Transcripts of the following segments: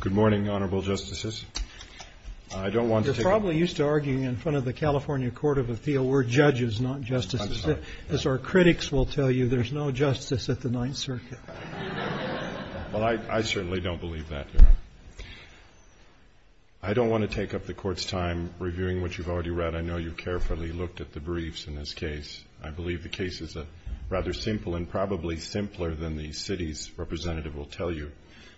Good morning, Honorable Justices. I don't want to take up the Court's time reviewing what you've already read. I know you've carefully looked at the briefs in this case. I believe the case is rather simple and probably simpler than the city's representative will tell you.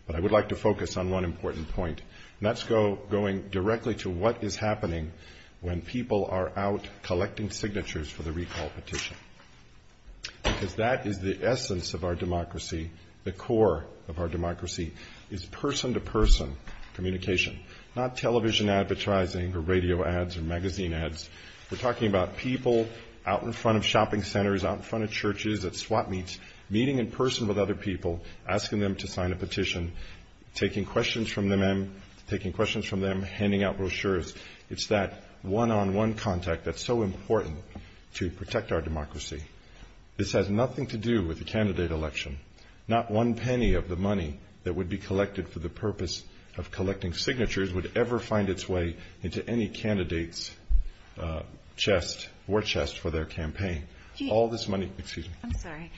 But I would like to focus on one important point, and that's going directly to what is happening when people are out collecting signatures for the recall petition. Because that is the essence of our democracy. The core of our democracy is person-to-person communication, not television advertising or radio ads or magazine ads. We're talking about people out in front of shopping centers, out in front of churches, at swap meets, meeting in person with other people, asking them to sign a petition, taking questions from them, handing out brochures. It's that one-on-one contact that's so important to protect our democracy. This has nothing to do with the candidate election. Not one penny of the money that would be collected for the purpose of collecting signatures would ever find its way into any candidate's chest or chest for their campaign. All this money, excuse me. I'm sorry.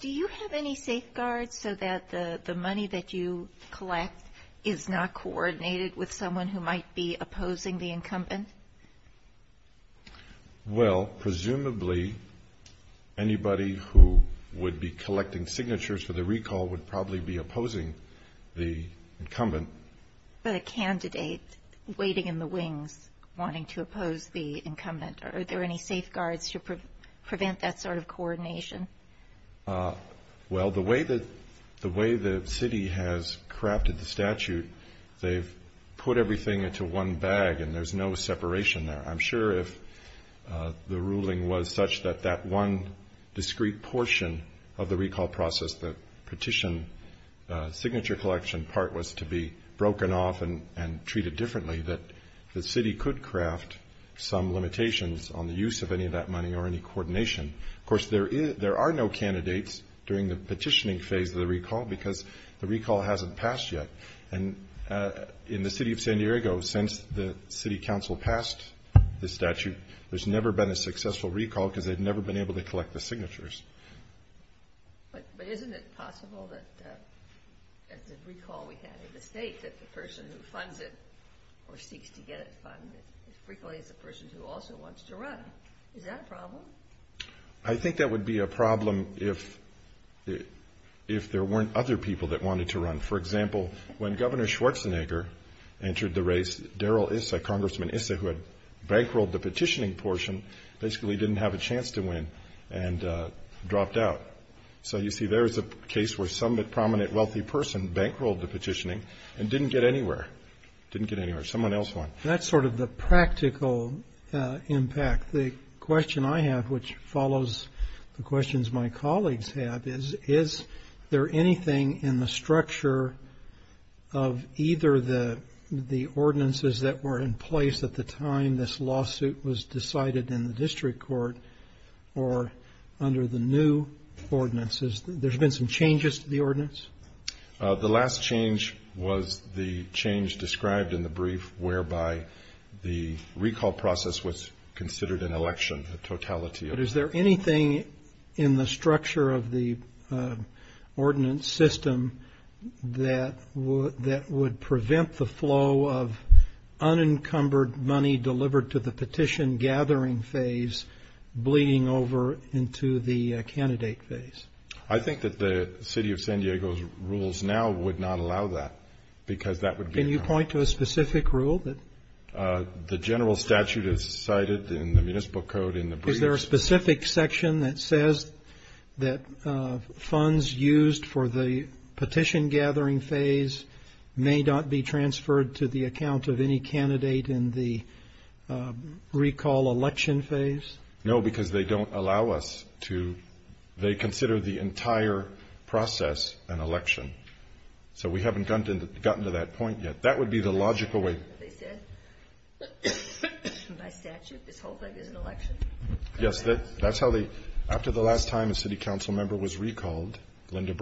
Do you have any safeguards so that the money that you collect is not coordinated with someone who might be opposing the incumbent? Well, presumably, anybody who would be collecting signatures for the recall would probably be opposing the incumbent. But a candidate waiting in the wings, wanting to oppose the incumbent. Are there any safeguards to prevent that sort of coordination? Well, the way the city has crafted the statute, they've put everything into one bag and there's no separation there. I'm sure if the ruling was such that that one discrete portion of the recall process, the petition signature collection part, was to be broken off and treated differently, that the city could craft some limitations on the use of any of that money or any coordination. Of course, there are no candidates during the petitioning phase of the recall because the recall hasn't passed yet. And in the city of San Diego, since the city council passed the statute, there's never been a successful recall because they've never been able to collect the signatures. But isn't it possible that the recall we had in the state, that the person who funds it or seeks to get it funded frequently is a person who also wants to run? Is that a problem? I think that would be a problem if there weren't other people that wanted to run. For example, when Governor Schwarzenegger entered the race, Darrell Issa, Congressman Issa, who had bankrolled the petitioning portion, basically didn't have a chance to win and dropped out. So you see, there is a case where some prominent wealthy person bankrolled the petitioning and didn't get anywhere. Didn't get anywhere. Someone else won. That's sort of the practical impact. The question I have, which follows the questions my colleagues have, is, is there anything in the structure of either the ordinances that were in place at the time this lawsuit was decided in the district court or under the new ordinances? There's been some changes to the ordinance? The last change was the change described in the brief whereby the recall process was considered an election, a totality of that. But is there anything in the structure of the ordinance system that would prevent the money delivered to the petition-gathering phase bleeding over into the candidate phase? I think that the City of San Diego's rules now would not allow that because that would be a problem. Can you point to a specific rule? The general statute is cited in the municipal code in the brief. Is there a specific section that says that funds used for the petition-gathering phase may not be transferred to the account of any candidate in the recall election phase? No, because they don't allow us to. They consider the entire process an election. So we haven't gotten to that point yet. That would be the logical way. They said by statute this whole thing is an election? Yes, that's how they, after the last time a city council member was recalled, Linda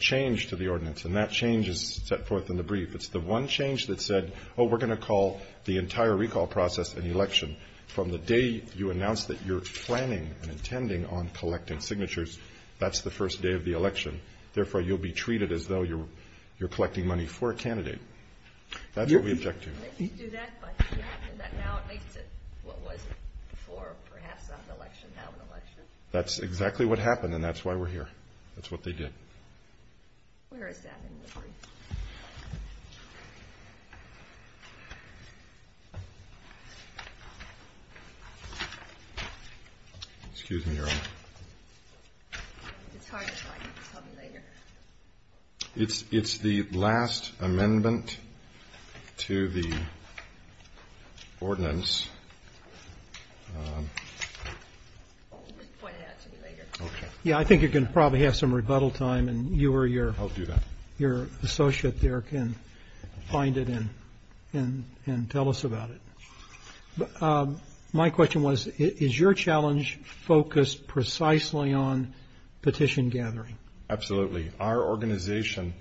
changed to the ordinance. And that change is set forth in the brief. It's the one change that said, oh, we're going to call the entire recall process an election. From the day you announced that you're planning and intending on collecting signatures, that's the first day of the election. Therefore, you'll be treated as though you're collecting money for a candidate. That's what we object to. You can do that, but now it makes it what was before perhaps an election, now an election. That's exactly what happened and that's why we're here. That's what they did. Excuse me. It's the last amendment to the ordinance. Yeah, I think you're going to probably have some rebuttal time and you or your associate there can find it and tell us about it. My question was, is your challenge focused precisely on petition gathering? Absolutely. Our organization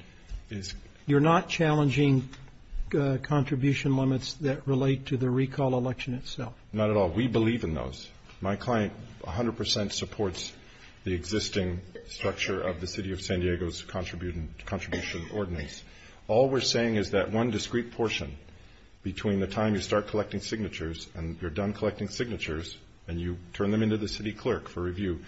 is... ...contribution limits that relate to the recall election itself? Not at all. We believe in those. My client 100 percent supports the existing structure of the city of San Diego's contribution ordinance. All we're saying is that one discrete portion between the time you start collecting signatures and you're done collecting signatures and you turn them into the city clerk for review,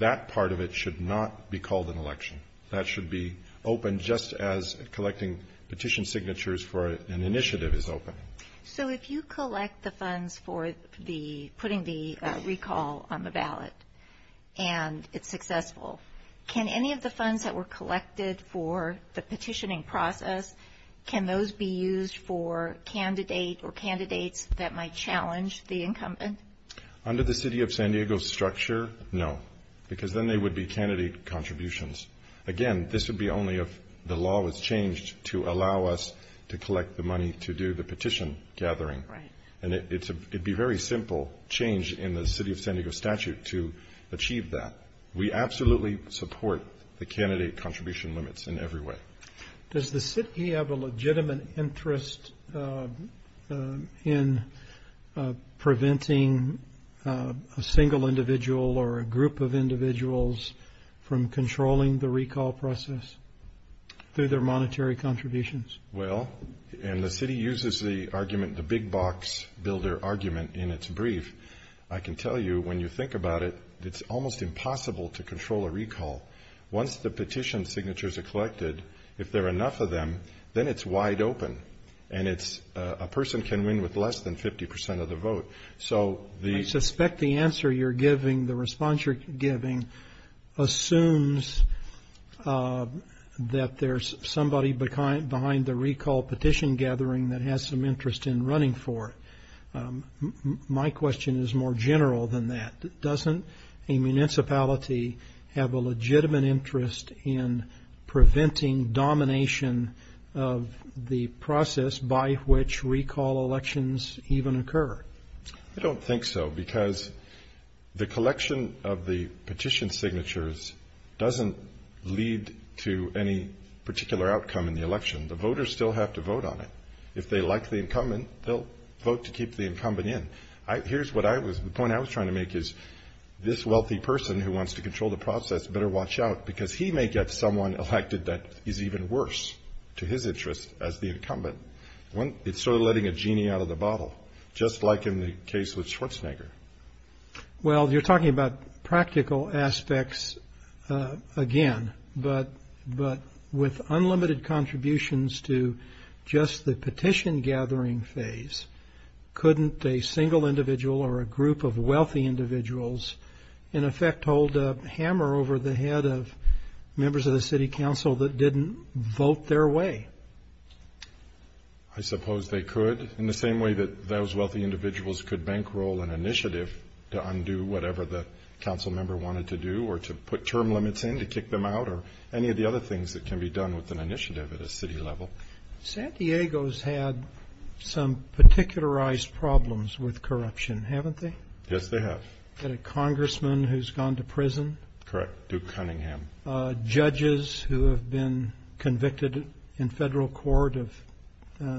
that part of it should not be called an election. That should be open just as collecting petition signatures for an initiative is open. So if you collect the funds for putting the recall on the ballot and it's successful, can any of the funds that were collected for the petitioning process, can those be used for candidate or candidates that might challenge the incumbent? Under the city of San Diego structure, no, because then they would be candidate contributions. Again, this would be only if the law was changed to allow us to collect the money to do the petition gathering. And it'd be very simple change in the city of San Diego statute to achieve that. We absolutely support the candidate contribution limits in every way. Does the city have a legitimate interest in preventing a single individual or a group of individuals from controlling the recall process through their monetary contributions? Well, and the city uses the argument, the big box builder argument in its brief. I can tell you when you think about it, it's almost impossible to control a recall. Once the petition signatures are collected, if there are enough of them, then it's wide open and it's a person can win with less than 50% of the vote. So the... I suspect the answer you're giving, the response you're giving assumes that there's somebody behind the recall petition gathering that has some interest in running for it. My question is more general than that. Doesn't a municipality have a legitimate interest in preventing domination of the process by which recall elections even occur? I don't think so, because the collection of the petition signatures doesn't lead to any particular outcome in the election. The voters still have to vote on it. If they like the incumbent in, here's what I was, the point I was trying to make is this wealthy person who wants to control the process better watch out, because he may get someone elected that is even worse to his interest as the incumbent. It's sort of letting a genie out of the bottle, just like in the case with Schwarzenegger. Well you're talking about practical aspects again, but with unlimited contributions to just the petition gathering phase, couldn't a single individual or a group of wealthy individuals in effect hold a hammer over the head of members of the city council that didn't vote their way? I suppose they could, in the same way that those wealthy individuals could bankroll an initiative to undo whatever the council member wanted to do, or to put term limits in to kick them out, or any of the other things that can be done with an initiative at a city level. San Diego's had some particularized problems with corruption, haven't they? Yes, they have. You've got a congressman who's gone to prison? Correct, Duke Cunningham. Judges who have been convicted in federal court of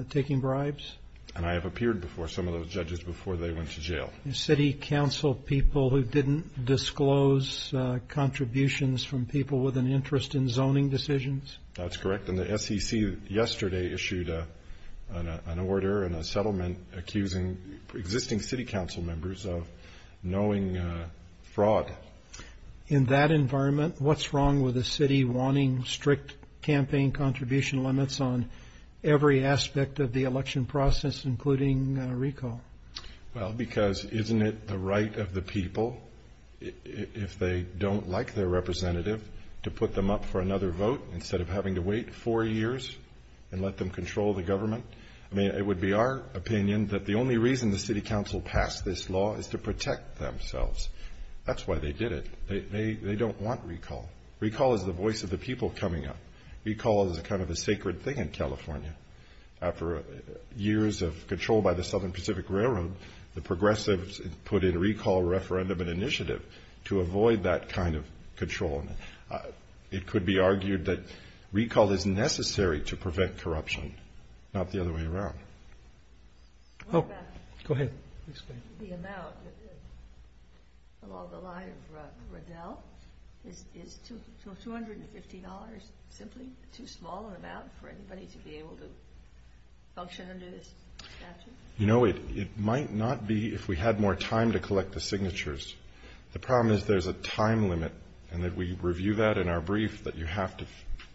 taking bribes? And I have appeared before some of those judges before they went to jail. City council people who didn't disclose contributions from people with an interest in zoning decisions? That's correct. And the SEC yesterday issued an order and a settlement accusing existing city council members of knowing fraud. In that environment, what's wrong with a city wanting strict campaign contribution limits on every aspect of the election process, including recall? Well, because isn't it the right of the people, if they don't like their representative, to wait four years and let them control the government? I mean, it would be our opinion that the only reason the city council passed this law is to protect themselves. That's why they did it. They don't want recall. Recall is the voice of the people coming up. Recall is kind of a sacred thing in California. After years of control by the Southern Pacific Railroad, the progressives put in recall referendum and initiative to avoid that kind of control. It could be argued that recall is necessary to prevent corruption, not the other way around. Oh, go ahead. The amount, along the line of Riddell, is $215 simply too small an amount for anybody to be able to function under this statute? No, it might not be if we had more time to collect the signatures. The problem is there's a time limit, and that we review that in our brief, that you have to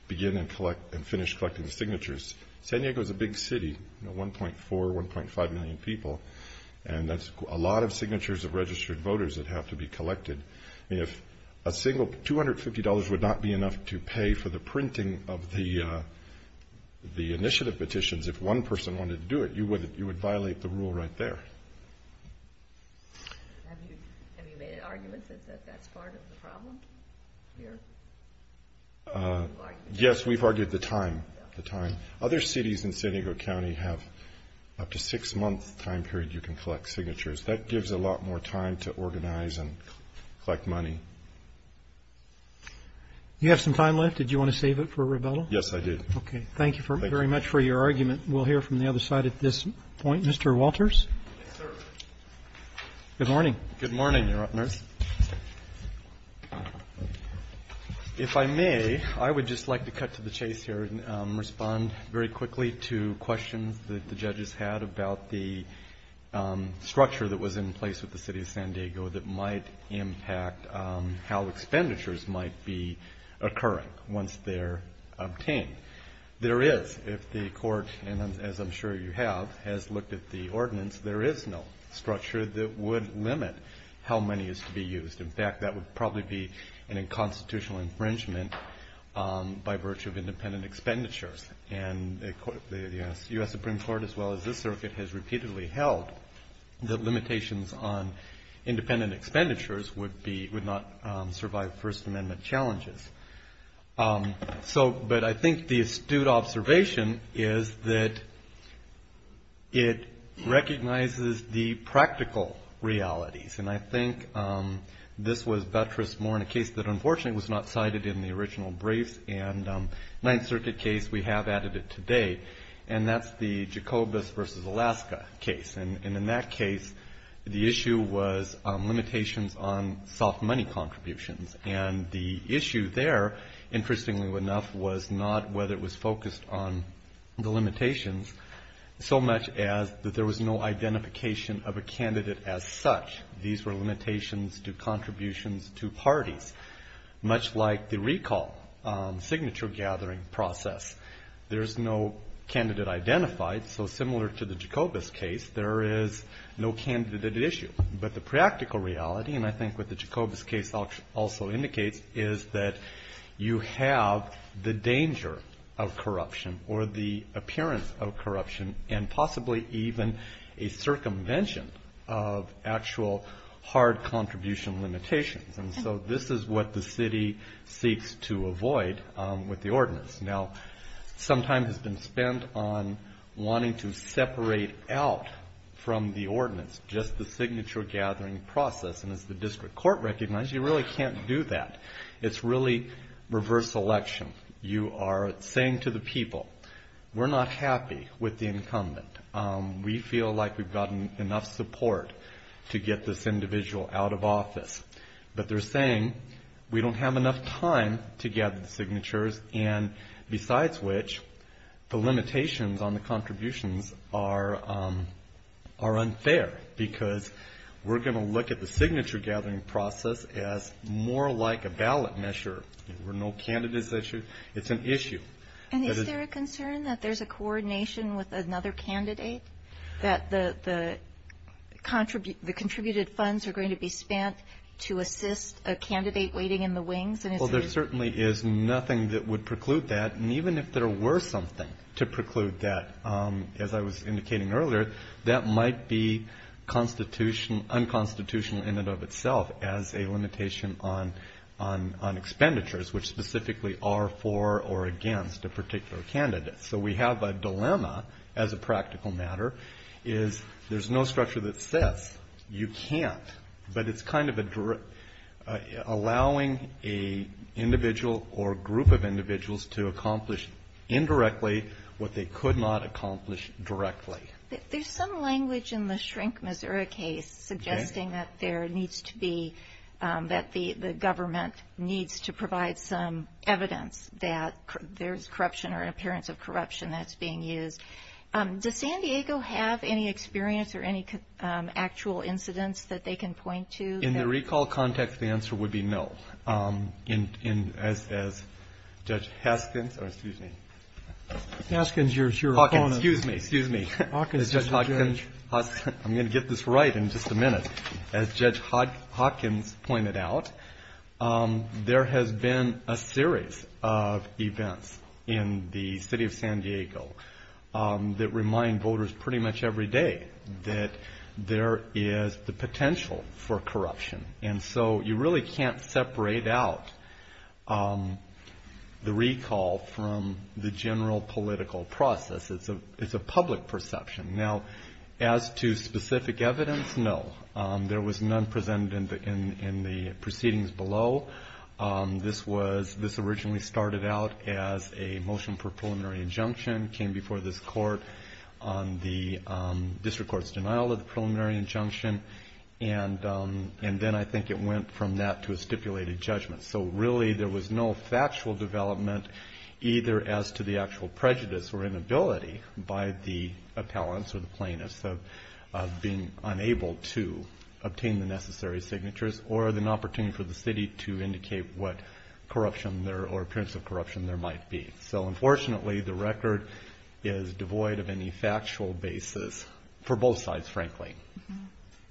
begin and finish collecting the signatures. San Diego is a big city, 1.4, 1.5 million people, and that's a lot of signatures of registered voters that have to be collected. If a single $250 would not be enough to pay for the printing of the initiative petitions, if one person wanted to do it, you would violate the rule right there. Have you made arguments that that's part of the problem here? Yes, we've argued the time. Other cities in San Diego County have up to a six-month time period you can collect signatures. That gives a lot more time to organize and collect money. Do you have some time left? Did you want to save it for a rebuttal? Yes, I did. Okay, thank you very much for your argument. We'll hear from the other side at this point. Mr. Walters? Yes, sir. Good morning. Good morning, Your Honors. If I may, I would just like to cut to the chase here and respond very quickly to questions that the judges had about the structure that was in place with the City of San Diego that might impact how expenditures might be occurring once they're obtained. There is, if the court, as I'm sure you have, has looked at the ordinance, there is no structure that would limit how money is to be used. In fact, that would probably be a constitutional infringement by virtue of independent expenditures. And the U.S. Supreme Court, as well as this circuit, has repeatedly held that limitations on independent expenditures would not survive First Amendment challenges. So, but I think the astute observation is that it recognizes the practical realities. And I think this was buttressed more in a case that unfortunately was not cited in the original briefs and Ninth Circuit case, we have added it today, and that's the Jacobus v. Alaska case. And in that case, the issue was limitations on soft money contributions. And the issue there, interestingly enough, was not whether it was focused on the limitations so much as that there was no identification of a candidate as such. These were limitations to contributions to parties, much like the recall signature gathering process. There's no candidate identified, so similar to the Jacobus case, there is no candidate at issue. But the practical reality, and I think what the Jacobus case also indicates, is that you have the danger of corruption or the appearance of corruption, and possibly even a circumvention of actual hard contribution limitations. And so this is what the city seeks to avoid with the ordinance. Now, some time has been spent on wanting to separate out from the ordinance just the signature gathering process, and as the district court recognized, you really can't do that. It's really reverse election. You are saying to the people, we're not happy with the incumbent. We feel like we've gotten enough support to get this individual out of office. But they're saying we don't have enough time to gather the signatures, and besides which, the limitations on the contributions are unfair because we're going to look at the signature gathering process as more like a ballot measure. There were no candidates at issue. It's an issue. And is there a concern that there's a coordination with another candidate, that the contributed funds are going to be spent to assist a candidate waiting in the wings? Well, there certainly is nothing that would preclude that, and even if there were something to preclude that, as I was indicating earlier, that might be unconstitutional in and of itself as a limitation on expenditures, which specifically are for or against a particular candidate. So we have a dilemma, as a practical matter, is there's no structure that says you can't, but it's kind of allowing an individual or group of individuals to accomplish indirectly what they could not accomplish directly. There's some language in the Shrink Missouri case suggesting that there needs to be, that the government needs to provide some evidence that there's corruption or an appearance of corruption that's being used. Does San Diego have any experience or any actual incidents that they can point to? In the recall context, the answer would be no. As Judge Haskins, or excuse me. Haskins, your opponent. I'm going to get this right in just a minute. As Judge Haskins pointed out, there has been a series of events in the city of San Diego that remind voters pretty much every day that there is the potential for corruption, and so you really can't separate out the recall from the general political process. It's a public perception. Now, as to specific evidence, no. There was none presented in the proceedings below. This originally started out as a motion for preliminary injunction, came before this court on the district court's denial of the preliminary injunction, and then I think it went from that to a stipulated judgment. So really there was no factual development either as to the actual prejudice or inability by the appellants or the plaintiffs of being unable to obtain the necessary signatures or an opportunity for the city to indicate what corruption or appearance of corruption there might be. So unfortunately the record is devoid of any factual basis for both sides, frankly.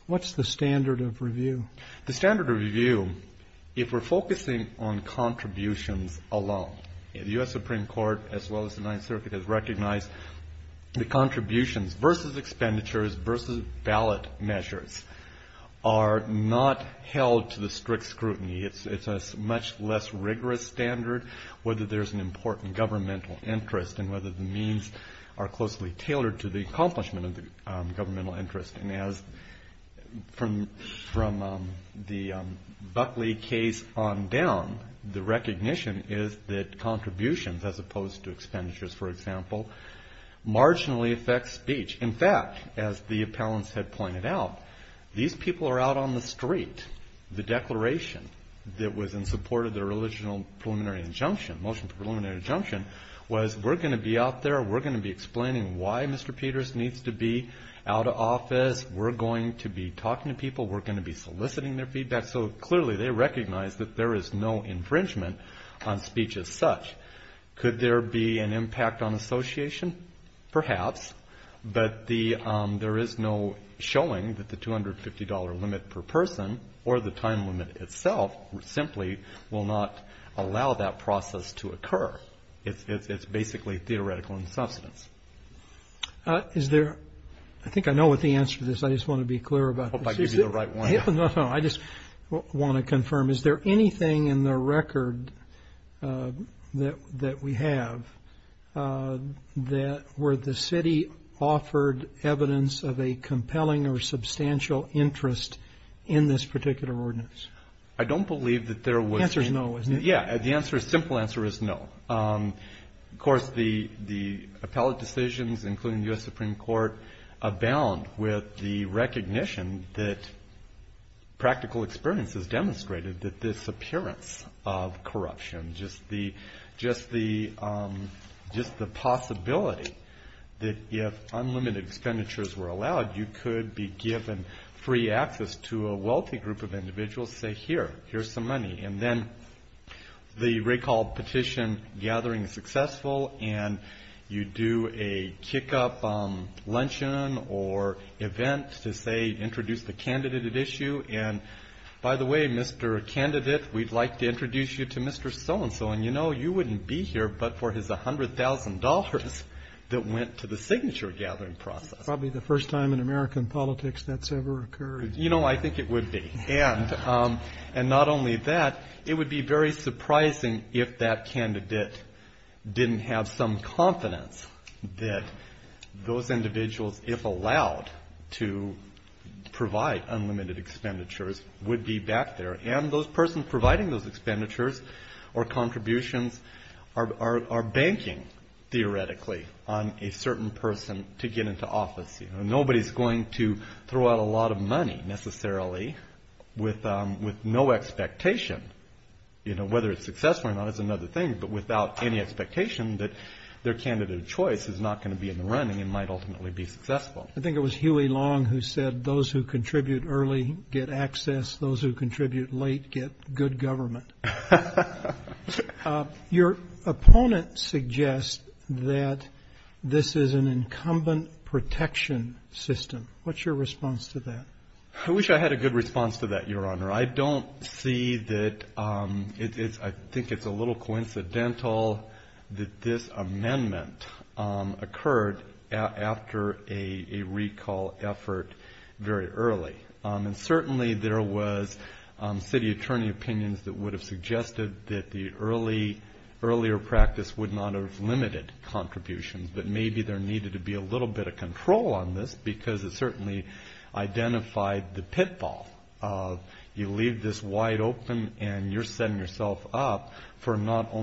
What's the standard of review? The standard of review, if we're focusing on contributions alone, the U.S. Supreme Court as well as the Ninth Circuit has recognized the contributions versus expenditures versus ballot measures are not held to the strict scrutiny. It's a much less rigorous standard whether there's an important governmental interest and whether the means are closely tailored to the accomplishment of the governmental interest. From the Buckley case on down, the recognition is that contributions as opposed to expenditures, for example, marginally affects speech. In fact, as the appellants had pointed out, these people are out on the street. The declaration that was in support of the original motion for preliminary injunction was we're going to be out there, we're going to be explaining why Mr. Peters needs to be out of office, we're going to be talking to people, we're going to be soliciting their feedback. So clearly they recognize that there is no infringement on speech as such. Could there be an impact on association? Perhaps, but there is no showing that the $250 limit per person or the time limit itself simply will not allow that process to occur. It's basically theoretical in substance. I think I know what the answer to this is. I just want to be clear about this. I hope I gave you the right one. No, no, I just want to confirm. Is there anything in the record that we have where the city offered evidence of a compelling or substantial interest in this particular ordinance? I don't believe that there was. The answer is no, isn't it? Yeah, the simple answer is no. Of course, the appellate decisions, including the U.S. Supreme Court, abound with the recognition that practical experience has demonstrated that this appearance of corruption, just the possibility that if unlimited expenditures were allowed, you could be given free access to a wealthy group of individuals, say, here, here's some money. And then the recall petition gathering is successful and you do a kick-up luncheon or event to, say, introduce the candidate at issue. And, by the way, Mr. Candidate, we'd like to introduce you to Mr. So-and-so, and you know you wouldn't be here but for his $100,000 that went to the signature gathering process. Probably the first time in American politics that's ever occurred. You know, I think it would be. And not only that, it would be very surprising if that candidate didn't have some confidence that those individuals, if allowed, to provide unlimited expenditures would be back there. And those persons providing those expenditures or contributions are banking, theoretically, on a certain person to get into office. You know, nobody's going to throw out a lot of money necessarily with no expectation. You know, whether it's successful or not is another thing, but without any expectation that their candidate of choice is not going to be in the running and might ultimately be successful. I think it was Huey Long who said those who contribute early get access, those who contribute late get good government. Your opponent suggests that this is an incumbent protection system. What's your response to that? I wish I had a good response to that, Your Honor. I don't see that. I think it's a little coincidental that this amendment occurred after a recall effort very early. And certainly there was city attorney opinions that would have suggested that the earlier practice would not have limited contributions. But maybe there needed to be a little bit of control on this because it certainly identified the pitfall of you leave this wide open and you're setting yourself up for not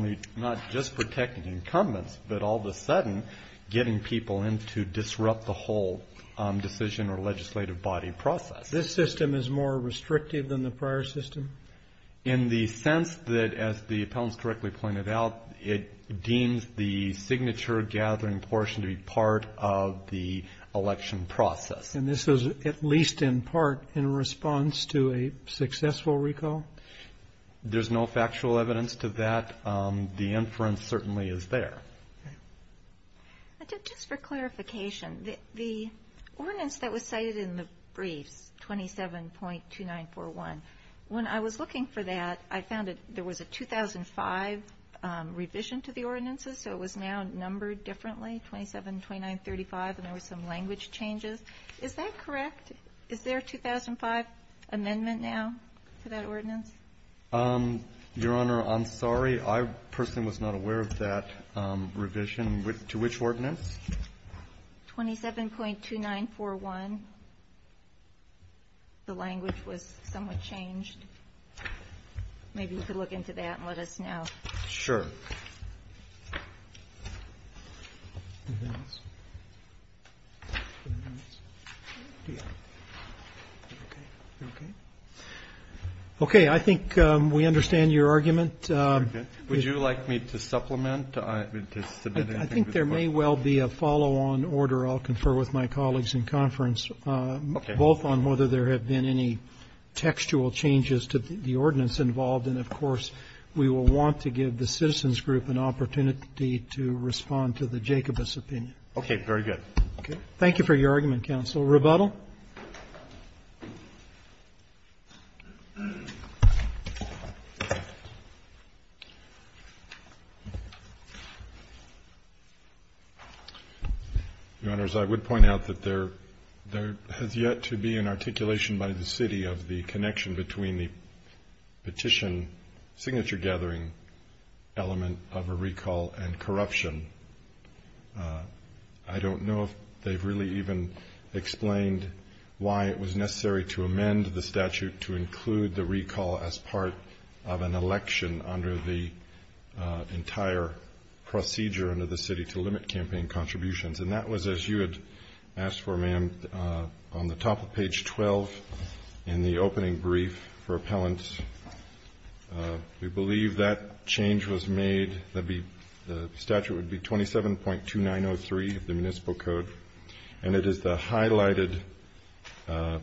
just protecting incumbents, but all of a sudden getting people in to disrupt the whole decision or legislative body process. This system is more restrictive than the prior system? In the sense that, as the appellants correctly pointed out, it deems the signature gathering portion to be part of the election process. And this is at least in part in response to a successful recall? There's no factual evidence to that. The inference certainly is there. Just for clarification, the ordinance that was cited in the briefs, 27.2941, when I was looking for that, I found that there was a 2005 revision to the ordinances, so it was now numbered differently, 272935, and there were some language changes. Is that correct? Is there a 2005 amendment now for that ordinance? Your Honor, I'm sorry. I personally was not aware of that revision. To which ordinance? 27.2941. The language was somewhat changed. Maybe you could look into that and let us know. Sure. Okay. I think we understand your argument. Would you like me to supplement? I think there may well be a follow-on order I'll confer with my colleagues in conference, both on whether there have been any textual changes to the ordinance involved, and, of course, we will want to give the Citizens Group an opportunity to respond to the Jacobus opinion. Okay. Very good. Thank you for your argument, counsel. Rebuttal? Your Honors, I would point out that there has yet to be an articulation by the city of the connection between the petition signature-gathering element of a recall and corruption. I don't know if they've really even explained why it was necessary to amend the statute to include the recall as part of an election under the entire procedure under the city to limit campaign contributions. And that was, as you had asked for, ma'am, on the top of page 12 in the opening brief for appellants. We believe that change was made. The statute would be 27.2903 of the Municipal Code, and it is the highlighted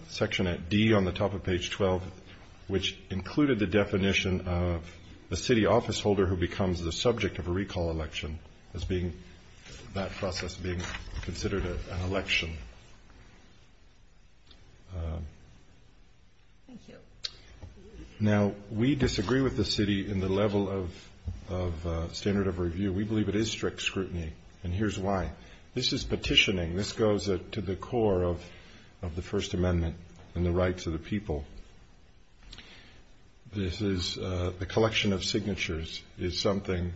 section at D on the top of page 12, which included the definition of a city officeholder who becomes the subject of a recall election, that process being considered an election. Thank you. Now, we disagree with the city in the level of standard of review. We believe it is strict scrutiny, and here's why. This is petitioning. This goes to the core of the First Amendment and the rights of the people. This is the collection of signatures is something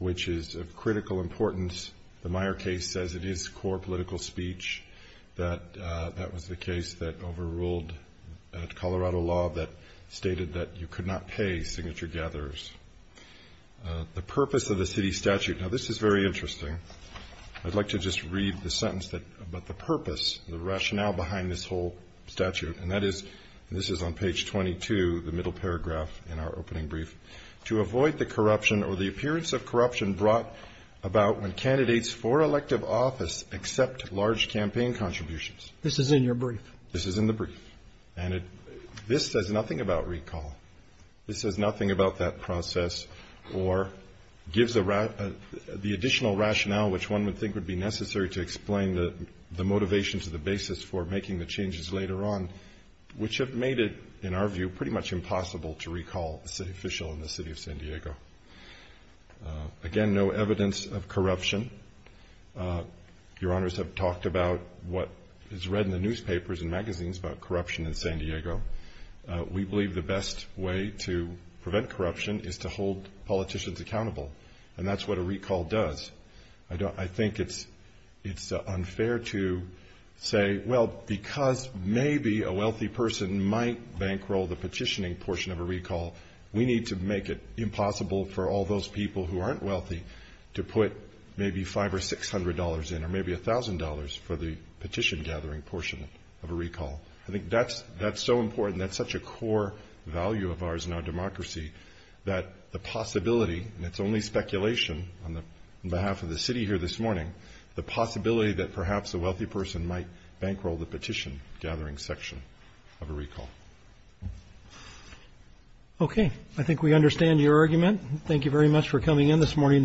which is of critical importance. The Meyer case says it is core political speech. That was the case that overruled Colorado law that stated that you could not pay signature-gatherers. The purpose of the city statute, now this is very interesting. I'd like to just read the sentence, but the purpose, the rationale behind this whole statute, and that is, and this is on page 22, the middle paragraph in our opening brief, to avoid the corruption or the appearance of corruption brought about when candidates for elective office accept large campaign contributions. This is in your brief? This is in the brief. And this says nothing about recall. This says nothing about that process or gives the additional rationale which one would think would be necessary to explain the motivation to the basis for making the changes later on, which have made it, in our view, pretty much impossible to recall a city official in the city of San Diego. Again, no evidence of corruption. Your Honors have talked about what is read in the newspapers and magazines about corruption in San Diego. We believe the best way to prevent corruption is to hold politicians accountable, and that's what a recall does. I think it's unfair to say, well, because maybe a wealthy person might bankroll the petitioning portion of a recall, we need to make it impossible for all those people who aren't wealthy to put maybe $500 or $600 in or maybe $1,000 for the petition-gathering portion of a recall. I think that's so important, that's such a core value of ours in our democracy, that the possibility, and it's only speculation on behalf of the city here this morning, the possibility that perhaps a wealthy person might bankroll the petition-gathering section of a recall. Okay. I think we understand your argument. Thank you very much for coming in this morning.